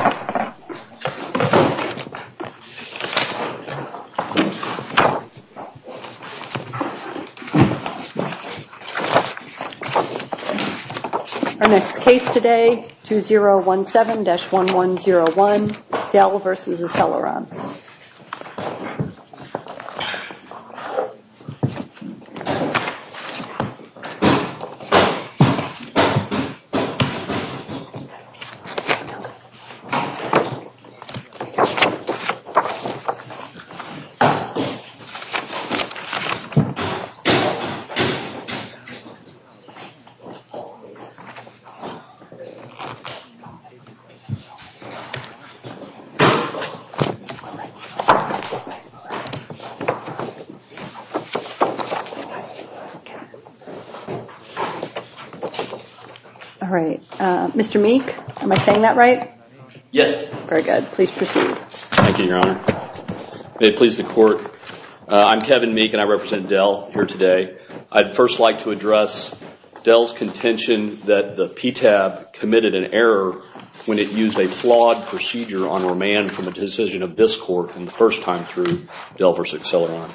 Our next case today, 2017-1101, Dell v. Acceleron. v. Acceleron, LLC Mr. Meek, am I saying that right? Yes. Very good. Please proceed. Thank you, Your Honor. May it please the Court, I'm Kevin Meek and I represent Dell here today. I'd first like to address Dell's contention that the PTAB committed an error when it used a flawed procedure on remand from a decision of this Court in the first time through Dell v. Acceleron.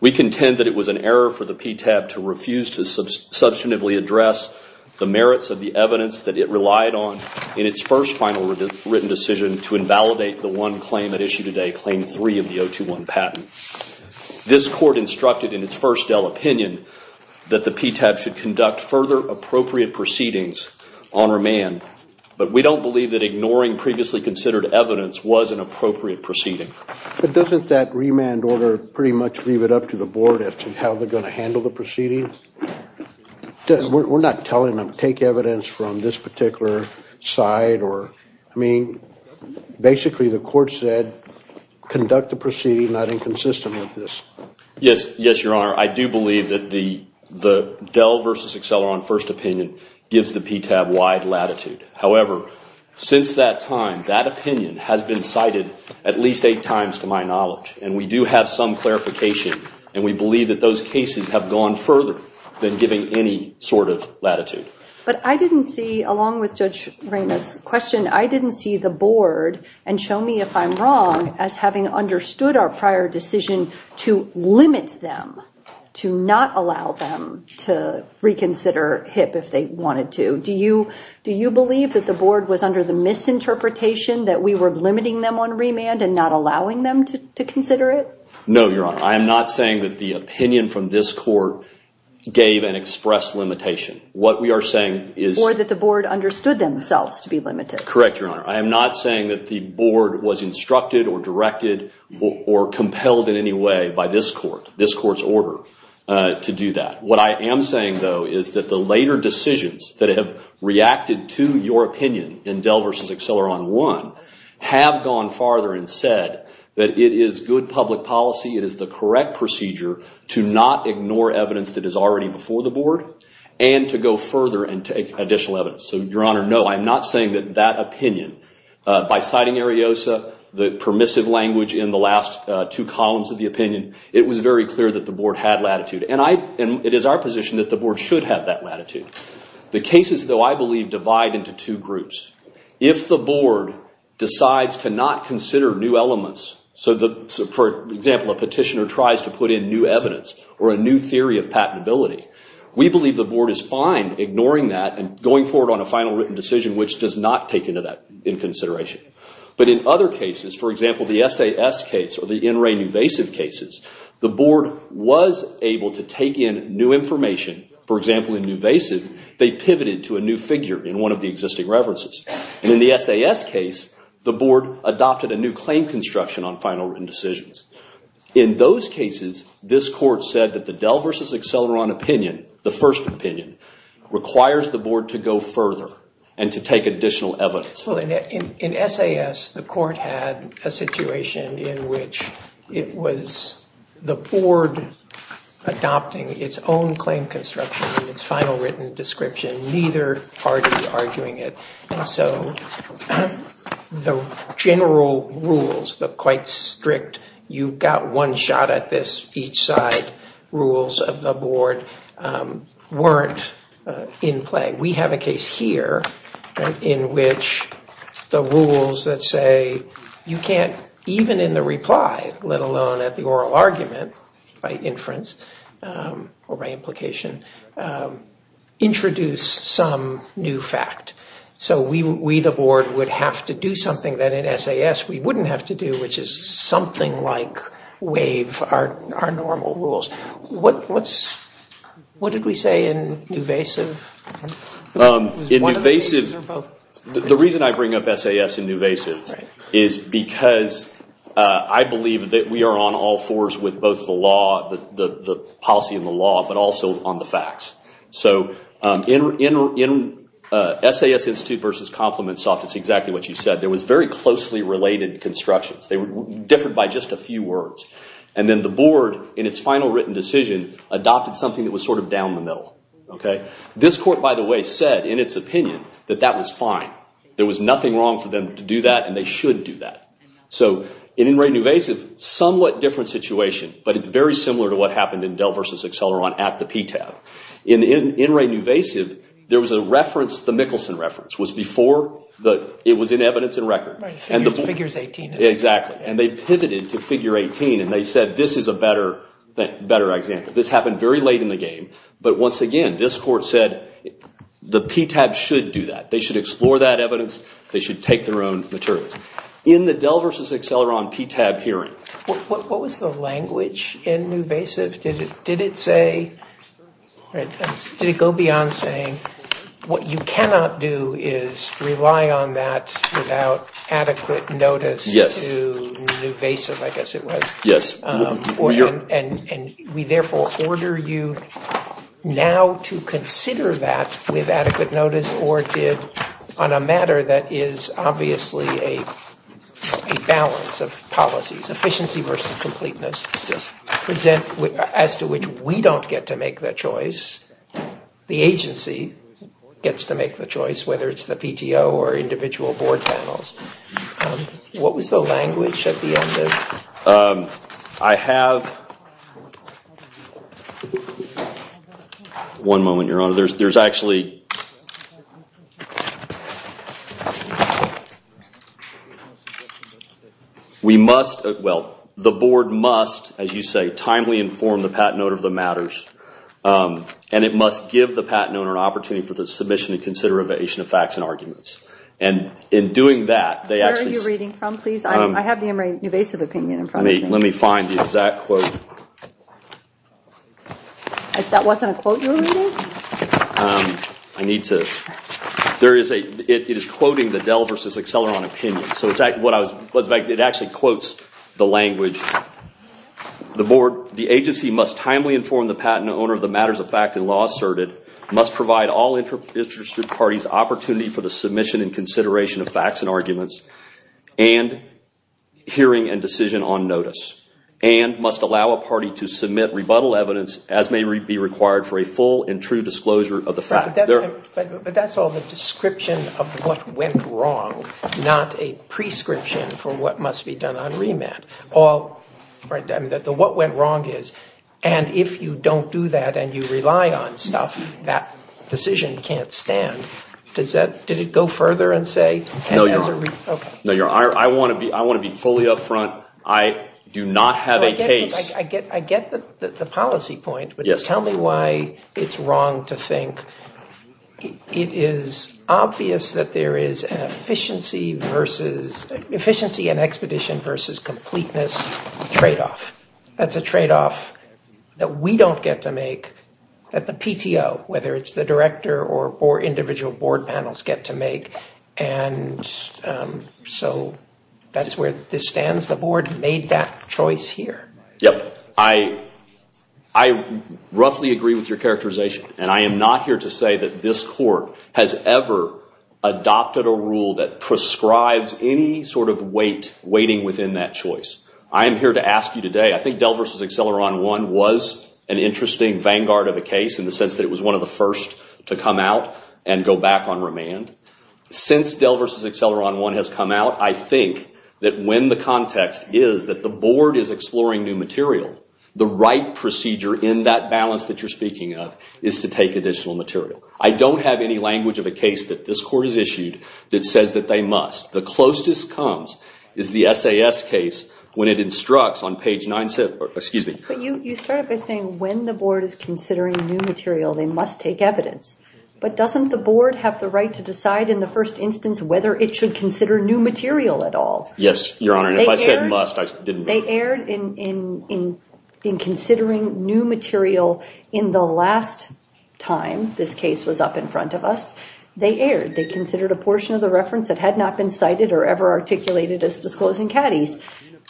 We contend that it was an error for the PTAB to refuse to substantively address the merits of the evidence that it relied on in its first final written decision to invalidate the one claim at issue today, Claim 3 of the 021 patent. This Court instructed in its first Dell opinion that the PTAB should conduct further appropriate proceedings on remand, but we don't believe that ignoring previously considered evidence was an appropriate proceeding. But doesn't that remand order pretty much leave it up to the Board as to how they're going to handle the proceedings? We're not telling them to take evidence from this particular side. I mean, basically the Court said conduct the proceeding not inconsistent with this. Yes, Your Honor. I do believe that the Dell v. Acceleron first opinion gives the PTAB wide latitude. However, since that time, that opinion has been cited at least eight times to my knowledge, and we do have some clarification, and we believe that those cases have gone further than giving any sort of latitude. But I didn't see, along with Judge Ramos' question, I didn't see the Board, and show me if I'm wrong, as having understood our prior decision to limit them, to not allow them to reconsider HIP if they wanted to. Do you believe that the Board was under the misinterpretation that we were limiting them on remand and not allowing them to consider it? No, Your Honor. I am not saying that the opinion from this Court gave an express limitation. What we are saying is… Or that the Board understood themselves to be limited. Correct, Your Honor. I am not saying that the Board was instructed or directed or compelled in any way by this Court, this Court's order to do that. What I am saying, though, is that the later decisions that have reacted to your opinion in Dell v. Acceleron I have gone farther and said that it is good public policy, it is the correct procedure to not ignore evidence that is already before the Board, and to go further and take additional evidence. So, Your Honor, no, I'm not saying that that opinion, by citing Ariosa, the permissive language in the last two columns of the opinion, it was very clear that the Board had latitude. And it is our position that the Board should have that latitude. The cases, though, I believe divide into two groups. If the Board decides to not consider new elements, so, for example, a petitioner tries to put in new evidence or a new theory of patentability, we believe the Board is fine ignoring that and going forward on a final written decision which does not take into that in consideration. But in other cases, for example, the SAS case or the In Re Nuvasiv cases, the Board was able to take in new information. For example, in Nuvasiv, they pivoted to a new figure in one of the existing references. And in the SAS case, the Board adopted a new claim construction on final written decisions. In those cases, this Court said that the Dell v. Acceleron opinion, the first opinion, requires the Board to go further and to take additional evidence. So in SAS, the Court had a situation in which it was the Board adopting its own claim construction and its final written description, neither party arguing it. And so the general rules, the quite strict, you've got one shot at this each side rules of the Board, weren't in play. We have a case here in which the rules that say you can't, even in the reply, let alone at the oral argument by inference or by implication, introduce some new fact. So we, the Board, would have to do something that in SAS we wouldn't have to do, which is something like waive our normal rules. What did we say in Nuvasiv? In Nuvasiv, the reason I bring up SAS and Nuvasiv is because I believe that we are on all fours with both the law, the policy and the law, but also on the facts. So in SAS Institute v. ComplimentSoft, it's exactly what you said. There was very closely related constructions. They were different by just a few words. And then the Board, in its final written decision, adopted something that was sort of down the middle. This court, by the way, said in its opinion that that was fine. There was nothing wrong for them to do that and they should do that. So in Ray Nuvasiv, somewhat different situation, but it's very similar to what happened in Dell v. Acceleron at the PTAB. In Ray Nuvasiv, there was a reference, the Mickelson reference, was before it was in evidence and record. Figures 18. Exactly. And they pivoted to figure 18 and they said this is a better example. This happened very late in the game. But once again, this court said the PTAB should do that. They should explore that evidence. They should take their own materials. In the Dell v. Acceleron PTAB hearing. What was the language in Nuvasiv? Did it go beyond saying what you cannot do is rely on that without adequate notice to Nuvasiv, I guess it was. Yes. And we therefore order you now to consider that with adequate notice or did, on a matter that is obviously a balance of policies, efficiency versus completeness. Yes. As to which we don't get to make that choice. The agency gets to make the choice, whether it's the PTO or individual board panels. What was the language at the end? I have... One moment, Your Honor. There's actually... We must... Well, the board must, as you say, timely inform the patent owner of the matters. And it must give the patent owner an opportunity for the submission and consideration of facts and arguments. And in doing that, they actually... Where are you reading from, please? I have the Emory Nuvasiv opinion in front of me. Let me find the exact quote. That wasn't a quote you were reading? I need to... There is a... It is quoting the Dell versus Acceleron opinion. So it's what I was... It actually quotes the language. The agency must timely inform the patent owner of the matters of fact and law asserted, must provide all interested parties opportunity for the submission and consideration of facts and arguments, and hearing and decision on notice, and must allow a party to submit rebuttal evidence as may be required for a full and true disclosure of the facts. But that's all the description of what went wrong, not a prescription for what must be done on remand. All... What went wrong is, and if you don't do that and you rely on stuff, that decision can't stand. Does that... Did it go further and say... No, Your Honor. Okay. No, Your Honor. I want to be fully up front. I do not have a case. I get the policy point. Yes. But tell me why it's wrong to think it is obvious that there is an efficiency versus... Efficiency and expedition versus completeness trade-off. That's a trade-off that we don't get to make, that the PTO, whether it's the director or individual board panels get to make. And so that's where this stands. The board made that choice here. Yep. I roughly agree with your characterization. And I am not here to say that this court has ever adopted a rule that prescribes any sort of weight, weighting within that choice. I am here to ask you today, I think Dell v. Acceleron I was an interesting vanguard of a case in the sense that it was one of the first to come out and go back on remand. Since Dell v. Acceleron I has come out, I think that when the context is that the board is exploring new material, the right procedure in that balance that you're speaking of is to take additional material. I don't have any language of a case that this court has issued that says that they must. The closest comes is the SAS case when it instructs on page 9... Excuse me. But you started by saying when the board is considering new material, they must take evidence. But doesn't the board have the right to decide in the first instance whether it should consider new material at all? Yes, Your Honor. If I said must, I didn't. They erred in considering new material in the last time this case was up in front of us. They erred. They considered a portion of the reference that had not been cited or ever articulated as disclosing caddies.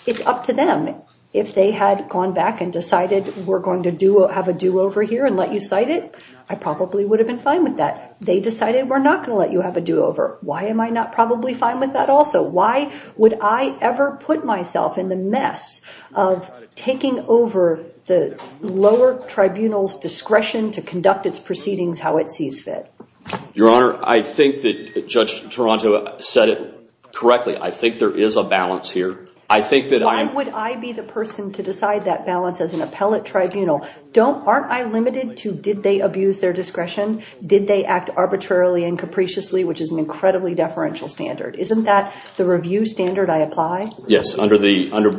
It's up to them. If they had gone back and decided we're going to have a do-over here and let you cite it, I probably would have been fine with that. They decided we're not going to let you have a do-over. Why am I not probably fine with that also? Why would I ever put myself in the mess of taking over the lower tribunal's discretion to conduct its proceedings how it sees fit? Your Honor, I think that Judge Toronto said it correctly. I think there is a balance here. Why would I be the person to decide that balance as an appellate tribunal? Aren't I limited to did they abuse their discretion? Did they act arbitrarily and capriciously, which is an incredibly deferential standard? Isn't that the review standard I apply? Yes, under the APA,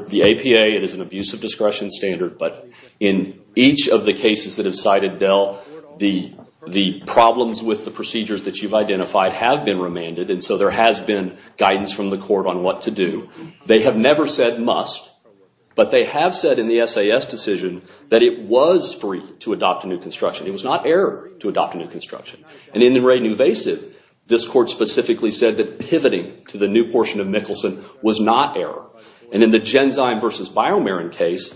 it is an abuse of discretion standard. But in each of the cases that have cited Dell, the problems with the procedures that you've identified have been remanded, and so there has been guidance from the court on what to do. They have never said must, but they have said in the SAS decision that it was free to adopt a new construction. It was not error to adopt a new construction. And in the Ray Nuvasive, this court specifically said that pivoting to the new portion of Mickelson was not error. And in the Genzyme versus Biomarin case,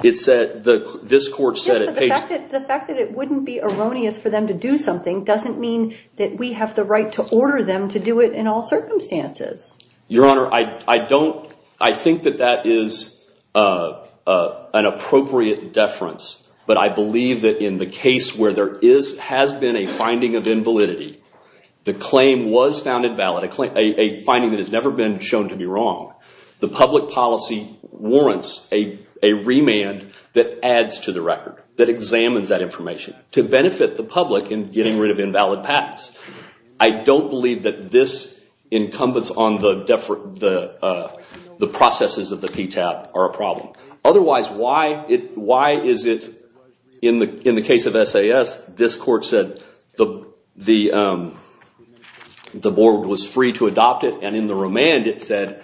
this court said it paid— Yes, but the fact that it wouldn't be erroneous for them to do something doesn't mean that we have the right to order them to do it in all circumstances. Your Honor, I don't—I think that that is an appropriate deference, but I believe that in the case where there has been a finding of invalidity, the claim was found invalid, a finding that has never been shown to be wrong, the public policy warrants a remand that adds to the record, that examines that information to benefit the public in getting rid of invalid patents. I don't believe that this incumbents on the processes of the PTAB are a problem. Otherwise, why is it in the case of SAS, this court said the board was free to adopt it, and in the remand it said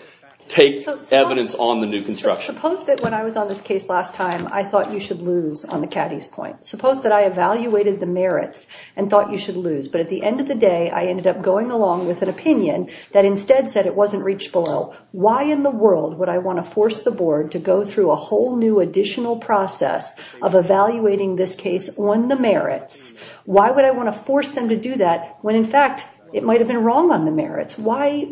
take evidence on the new construction. Suppose that when I was on this case last time, I thought you should lose on the Caddy's point. Suppose that I evaluated the merits and thought you should lose, but at the end of the day I ended up going along with an opinion that instead said it wasn't reached below. Why in the world would I want to force the board to go through a whole new additional process of evaluating this case on the merits? Why would I want to force them to do that when in fact it might have been wrong on the merits? Why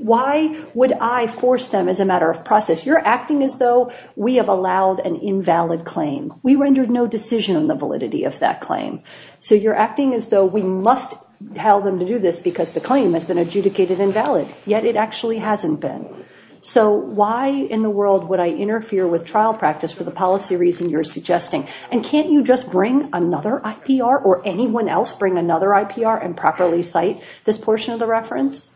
would I force them as a matter of process? You're acting as though we have allowed an invalid claim. We rendered no decision on the validity of that claim. So you're acting as though we must tell them to do this because the claim has been adjudicated invalid. Yet it actually hasn't been. So why in the world would I interfere with trial practice for the policy reason you're suggesting? And can't you just bring another IPR or anyone else bring another IPR and properly cite this portion of the reference?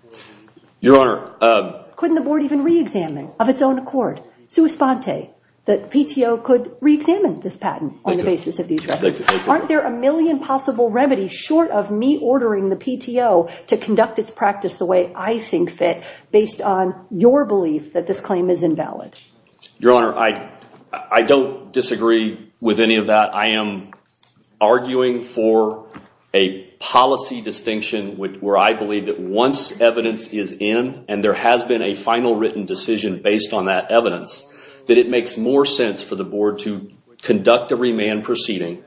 Your Honor. Couldn't the board even re-examine of its own accord, sua sponte, that the PTO could re-examine this patent on the basis of these records? Aren't there a million possible remedies short of me ordering the PTO to conduct its practice the way I think fit based on your belief that this claim is invalid? Your Honor, I don't disagree with any of that. I am arguing for a policy distinction where I believe that once evidence is in and there has been a final written decision based on that evidence, that it makes more sense for the board to conduct a remand proceeding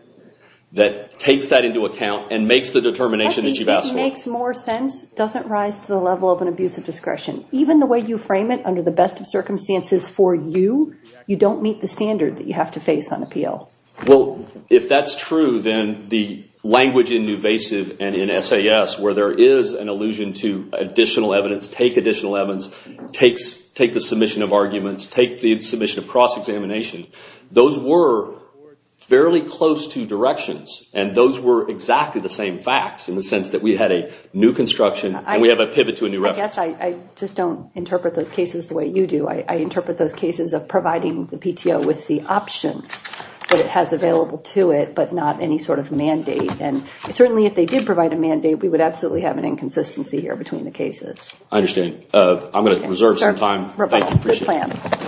that takes that into account and makes the determination that you've asked for. I think it makes more sense doesn't rise to the level of an abuse of discretion. Even the way you frame it under the best of circumstances for you, you don't meet the standard that you have to face on appeal. Well, if that's true, then the language in Nuvasiv and in SAS where there is an allusion to additional evidence, take additional evidence, take the submission of arguments, take the submission of cross-examination, those were fairly close to directions. And those were exactly the same facts in the sense that we had a new construction and we have a pivot to a new reference. I guess I just don't interpret those cases the way you do. I interpret those cases of providing the PTO with the options that it has available to it, but not any sort of mandate. And certainly if they did provide a mandate, we would absolutely have an inconsistency here between the cases. I understand. I'm going to reserve some time. Thank you.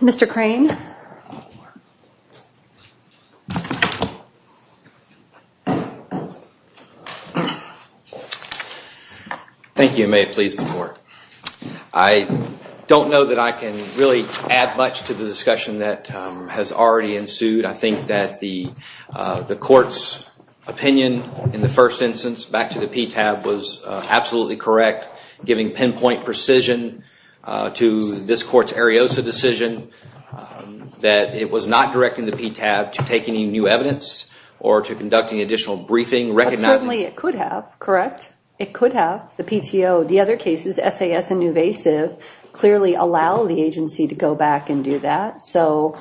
Mr. Crane. Thank you. May it please the court. I don't know that I can really add much to the discussion that has already ensued. I think that the court's opinion in the first instance back to the PTAB was absolutely correct, giving pinpoint precision to this court's Ariosa decision that it was not directing the PTAB to take any new evidence or to conduct any additional briefing. Certainly it could have, correct? It could have. The PTO, the other cases, SAS and Nuvasiv, clearly allow the agency to go back and do that. So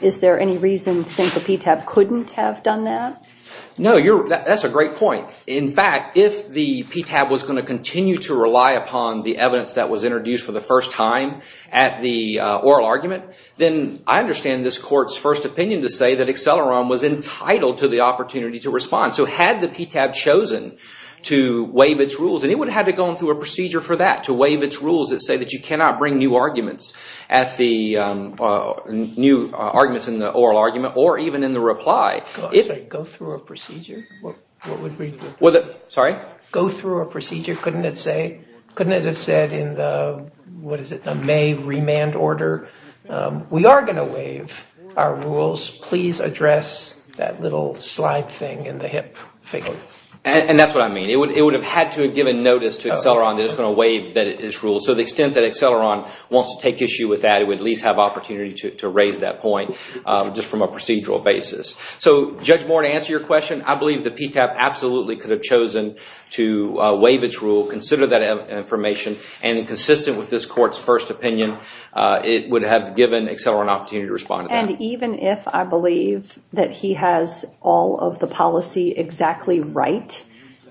is there any reason to think the PTAB couldn't have done that? No, that's a great point. In fact, if the PTAB was going to continue to rely upon the evidence that was introduced for the first time at the oral argument, then I understand this court's first opinion to say that Acceleron was entitled to the opportunity to respond. So had the PTAB chosen to waive its rules, and it would have had to go through a procedure for that, to waive its rules that say that you cannot bring new arguments in the oral argument or even in the reply. Go through a procedure? Sorry? Go through a procedure, couldn't it have said in the May remand order, we are going to waive our rules, please address that little slide thing in the hip figure? And that's what I mean. It would have had to have given notice to Acceleron that it's going to waive its rules. So to the extent that Acceleron wants to take issue with that, they would at least have opportunity to raise that point just from a procedural basis. So Judge Moore, to answer your question, I believe the PTAB absolutely could have chosen to waive its rule, consider that information, and consistent with this court's first opinion, it would have given Acceleron an opportunity to respond to that. And even if I believe that he has all of the policy exactly right,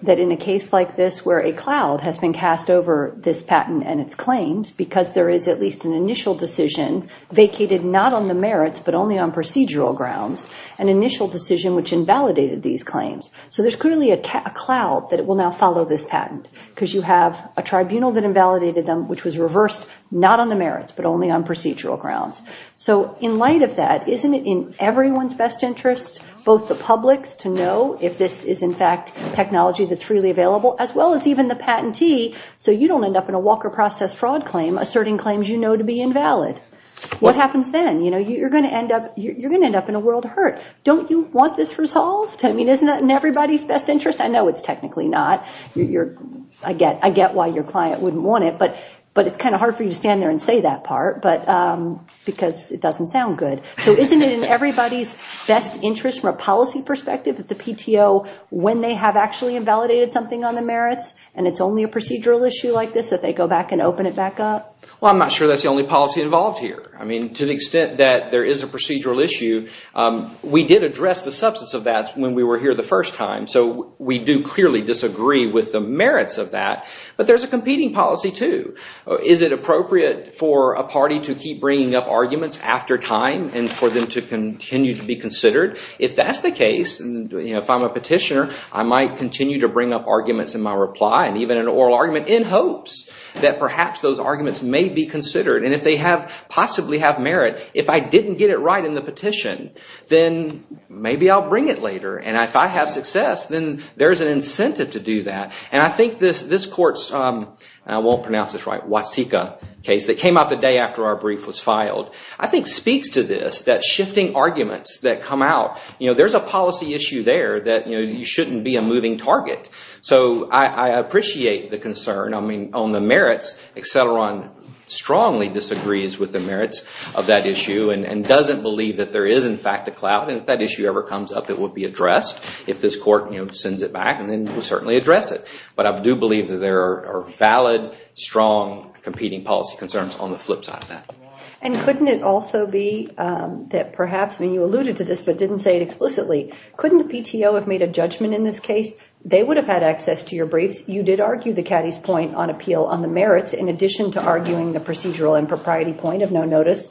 that in a case like this where a cloud has been cast over this patent and its claims, because there is at least an initial decision vacated not on the merits but only on procedural grounds, an initial decision which invalidated these claims. So there's clearly a cloud that will now follow this patent, because you have a tribunal that invalidated them, which was reversed, not on the merits but only on procedural grounds. So in light of that, isn't it in everyone's best interest, both the public's, to know if this is in fact technology that's freely available, as well as even the patentee, so you don't end up in a Walker Process fraud claim asserting claims you know to be invalid. What happens then? You're going to end up in a world hurt. Don't you want this resolved? I mean, isn't that in everybody's best interest? I know it's technically not. I get why your client wouldn't want it, but it's kind of hard for you to stand there and say that part, because it doesn't sound good. So isn't it in everybody's best interest from a policy perspective that the PTO, when they have actually invalidated something on the merits, and it's only a procedural issue like this, that they go back and open it back up? Well, I'm not sure that's the only policy involved here. I mean, to the extent that there is a procedural issue, we did address the substance of that when we were here the first time, so we do clearly disagree with the merits of that. But there's a competing policy, too. Is it appropriate for a party to keep bringing up arguments after time and for them to continue to be considered? If that's the case, if I'm a petitioner, I might continue to bring up arguments in my reply and even an oral argument in hopes that perhaps those arguments may be considered. And if they possibly have merit, if I didn't get it right in the petition, then maybe I'll bring it later. And if I have success, then there's an incentive to do that. And I think this court's, I won't pronounce this right, Waseca case that came out the day after our brief was filed, I think speaks to this, that shifting arguments that come out, there's a policy issue there that you shouldn't be a moving target. So I appreciate the concern. I mean, on the merits, Acceleron strongly disagrees with the merits of that issue and doesn't believe that there is, in fact, a clout. And if that issue ever comes up, it will be addressed. If this court sends it back, then we'll certainly address it. But I do believe that there are valid, strong competing policy concerns on the flip side of that. And couldn't it also be that perhaps, I mean, you alluded to this, but didn't say it explicitly, couldn't the PTO have made a judgment in this case? They would have had access to your briefs. You did argue the caddy's point on appeal on the merits, in addition to arguing the procedural and propriety point of no notice.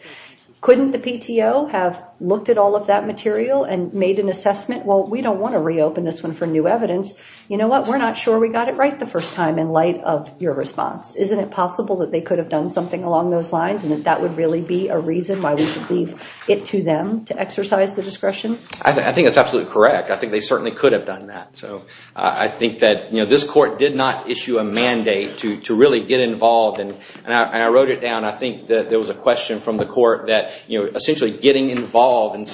Couldn't the PTO have looked at all of that material and made an assessment? Well, we don't want to reopen this one for new evidence. You know what, we're not sure we got it right the first time in light of your response. Isn't it possible that they could have done something along those lines and that that would really be a reason why we should leave it to them to exercise the discretion? I think that's absolutely correct. I think they certainly could have done that. So I think that this court did not issue a mandate to really get involved. And I wrote it down. I think that there was a question from the court that essentially getting involved and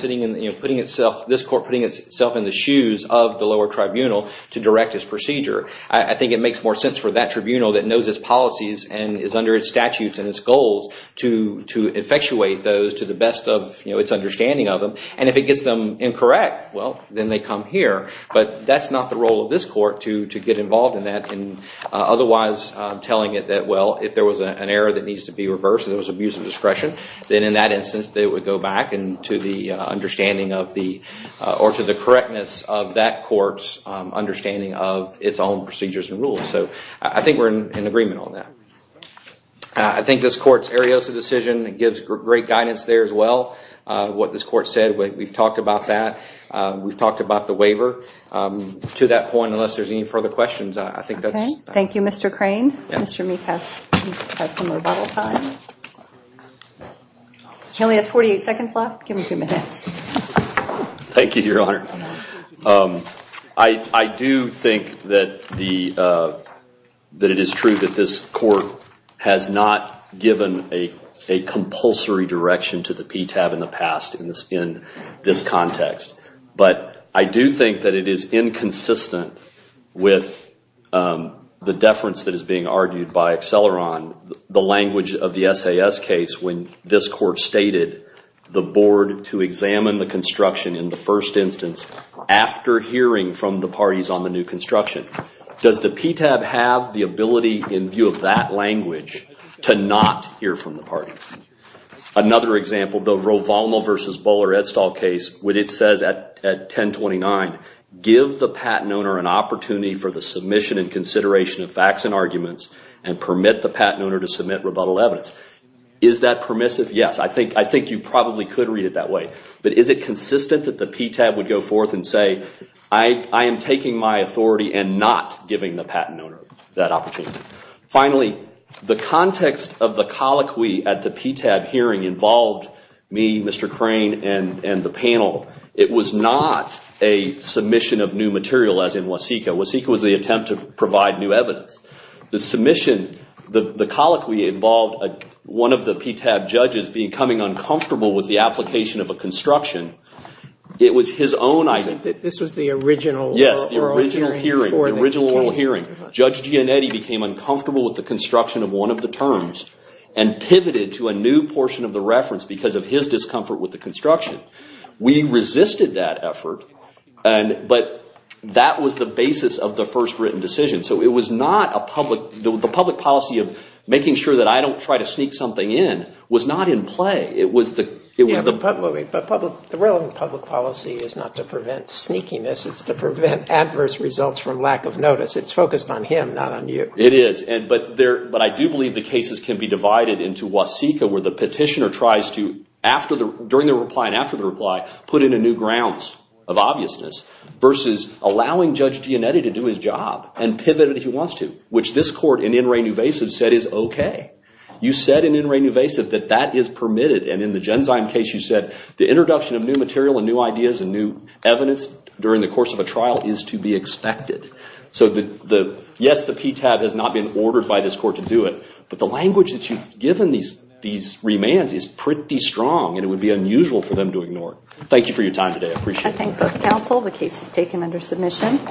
putting itself, this court putting itself in the shoes of the lower tribunal to direct its procedure. I think it makes more sense for that tribunal that knows its policies and is under its statutes and its goals to effectuate those to the best of its understanding of them. And if it gets them incorrect, well, then they come here. But that's not the role of this court to get involved in that. And otherwise telling it that, well, if there was an error that needs to be reversed and there was abuse of discretion, then in that instance they would go back into the understanding or to the correctness of that court's understanding of its own procedures and rules. So I think we're in agreement on that. I think this court's Ariosa decision gives great guidance there as well. What this court said, we've talked about that. We've talked about the waiver. To that point, unless there's any further questions, I think that's it. Thank you, Mr. Crane. Mr. Meek has some rebuttal time. He only has 48 seconds left. Give him a few minutes. Thank you, Your Honor. I do think that it is true that this court has not given a compulsory direction to the PTAB in the past in this context. But I do think that it is inconsistent with the deference that is being argued by Acceleron. The language of the SAS case when this court stated the board to examine the construction in the first instance after hearing from the parties on the new construction. Does the PTAB have the ability in view of that language to not hear from the parties? Another example, the Rovalmo v. Bowler-Edstall case, when it says at 1029, give the patent owner an opportunity for the submission and consideration of facts and arguments and permit the patent owner to submit rebuttal evidence. Is that permissive? Yes. I think you probably could read it that way. But is it consistent that the PTAB would go forth and say, I am taking my authority and not giving the patent owner that opportunity? Finally, the context of the colloquy at the PTAB hearing involved me, Mr. Crane, and the panel. It was not a submission of new material as in Waseca. Waseca was the attempt to provide new evidence. The submission, the colloquy involved one of the PTAB judges becoming uncomfortable with the application of a construction. It was his own idea. This was the original oral hearing. Yes, the original oral hearing. Judge Gianetti became uncomfortable with the construction of one of the terms and pivoted to a new portion of the reference because of his discomfort with the construction. We resisted that effort, but that was the basis of the first written decision. The public policy of making sure that I don't try to sneak something in was not in play. The relevant public policy is not to prevent sneakiness. It's to prevent adverse results from lack of notice. It's focused on him, not on you. It is, but I do believe the cases can be divided into Waseca, where the petitioner tries to, during the reply and after the reply, put in a new grounds of obviousness versus allowing Judge Gianetti to do his job and pivot it if he wants to, which this court in in re nuvasive said is okay. You said in in re nuvasive that that is permitted, and in the Genzyme case you said, the introduction of new material and new ideas and new evidence during the course of a trial is to be expected. So yes, the PTAB has not been ordered by this court to do it, but the language that you've given these remands is pretty strong, and it would be unusual for them to ignore it. Thank you for your time today. I appreciate it. I thank both counsel. The case is taken under submission.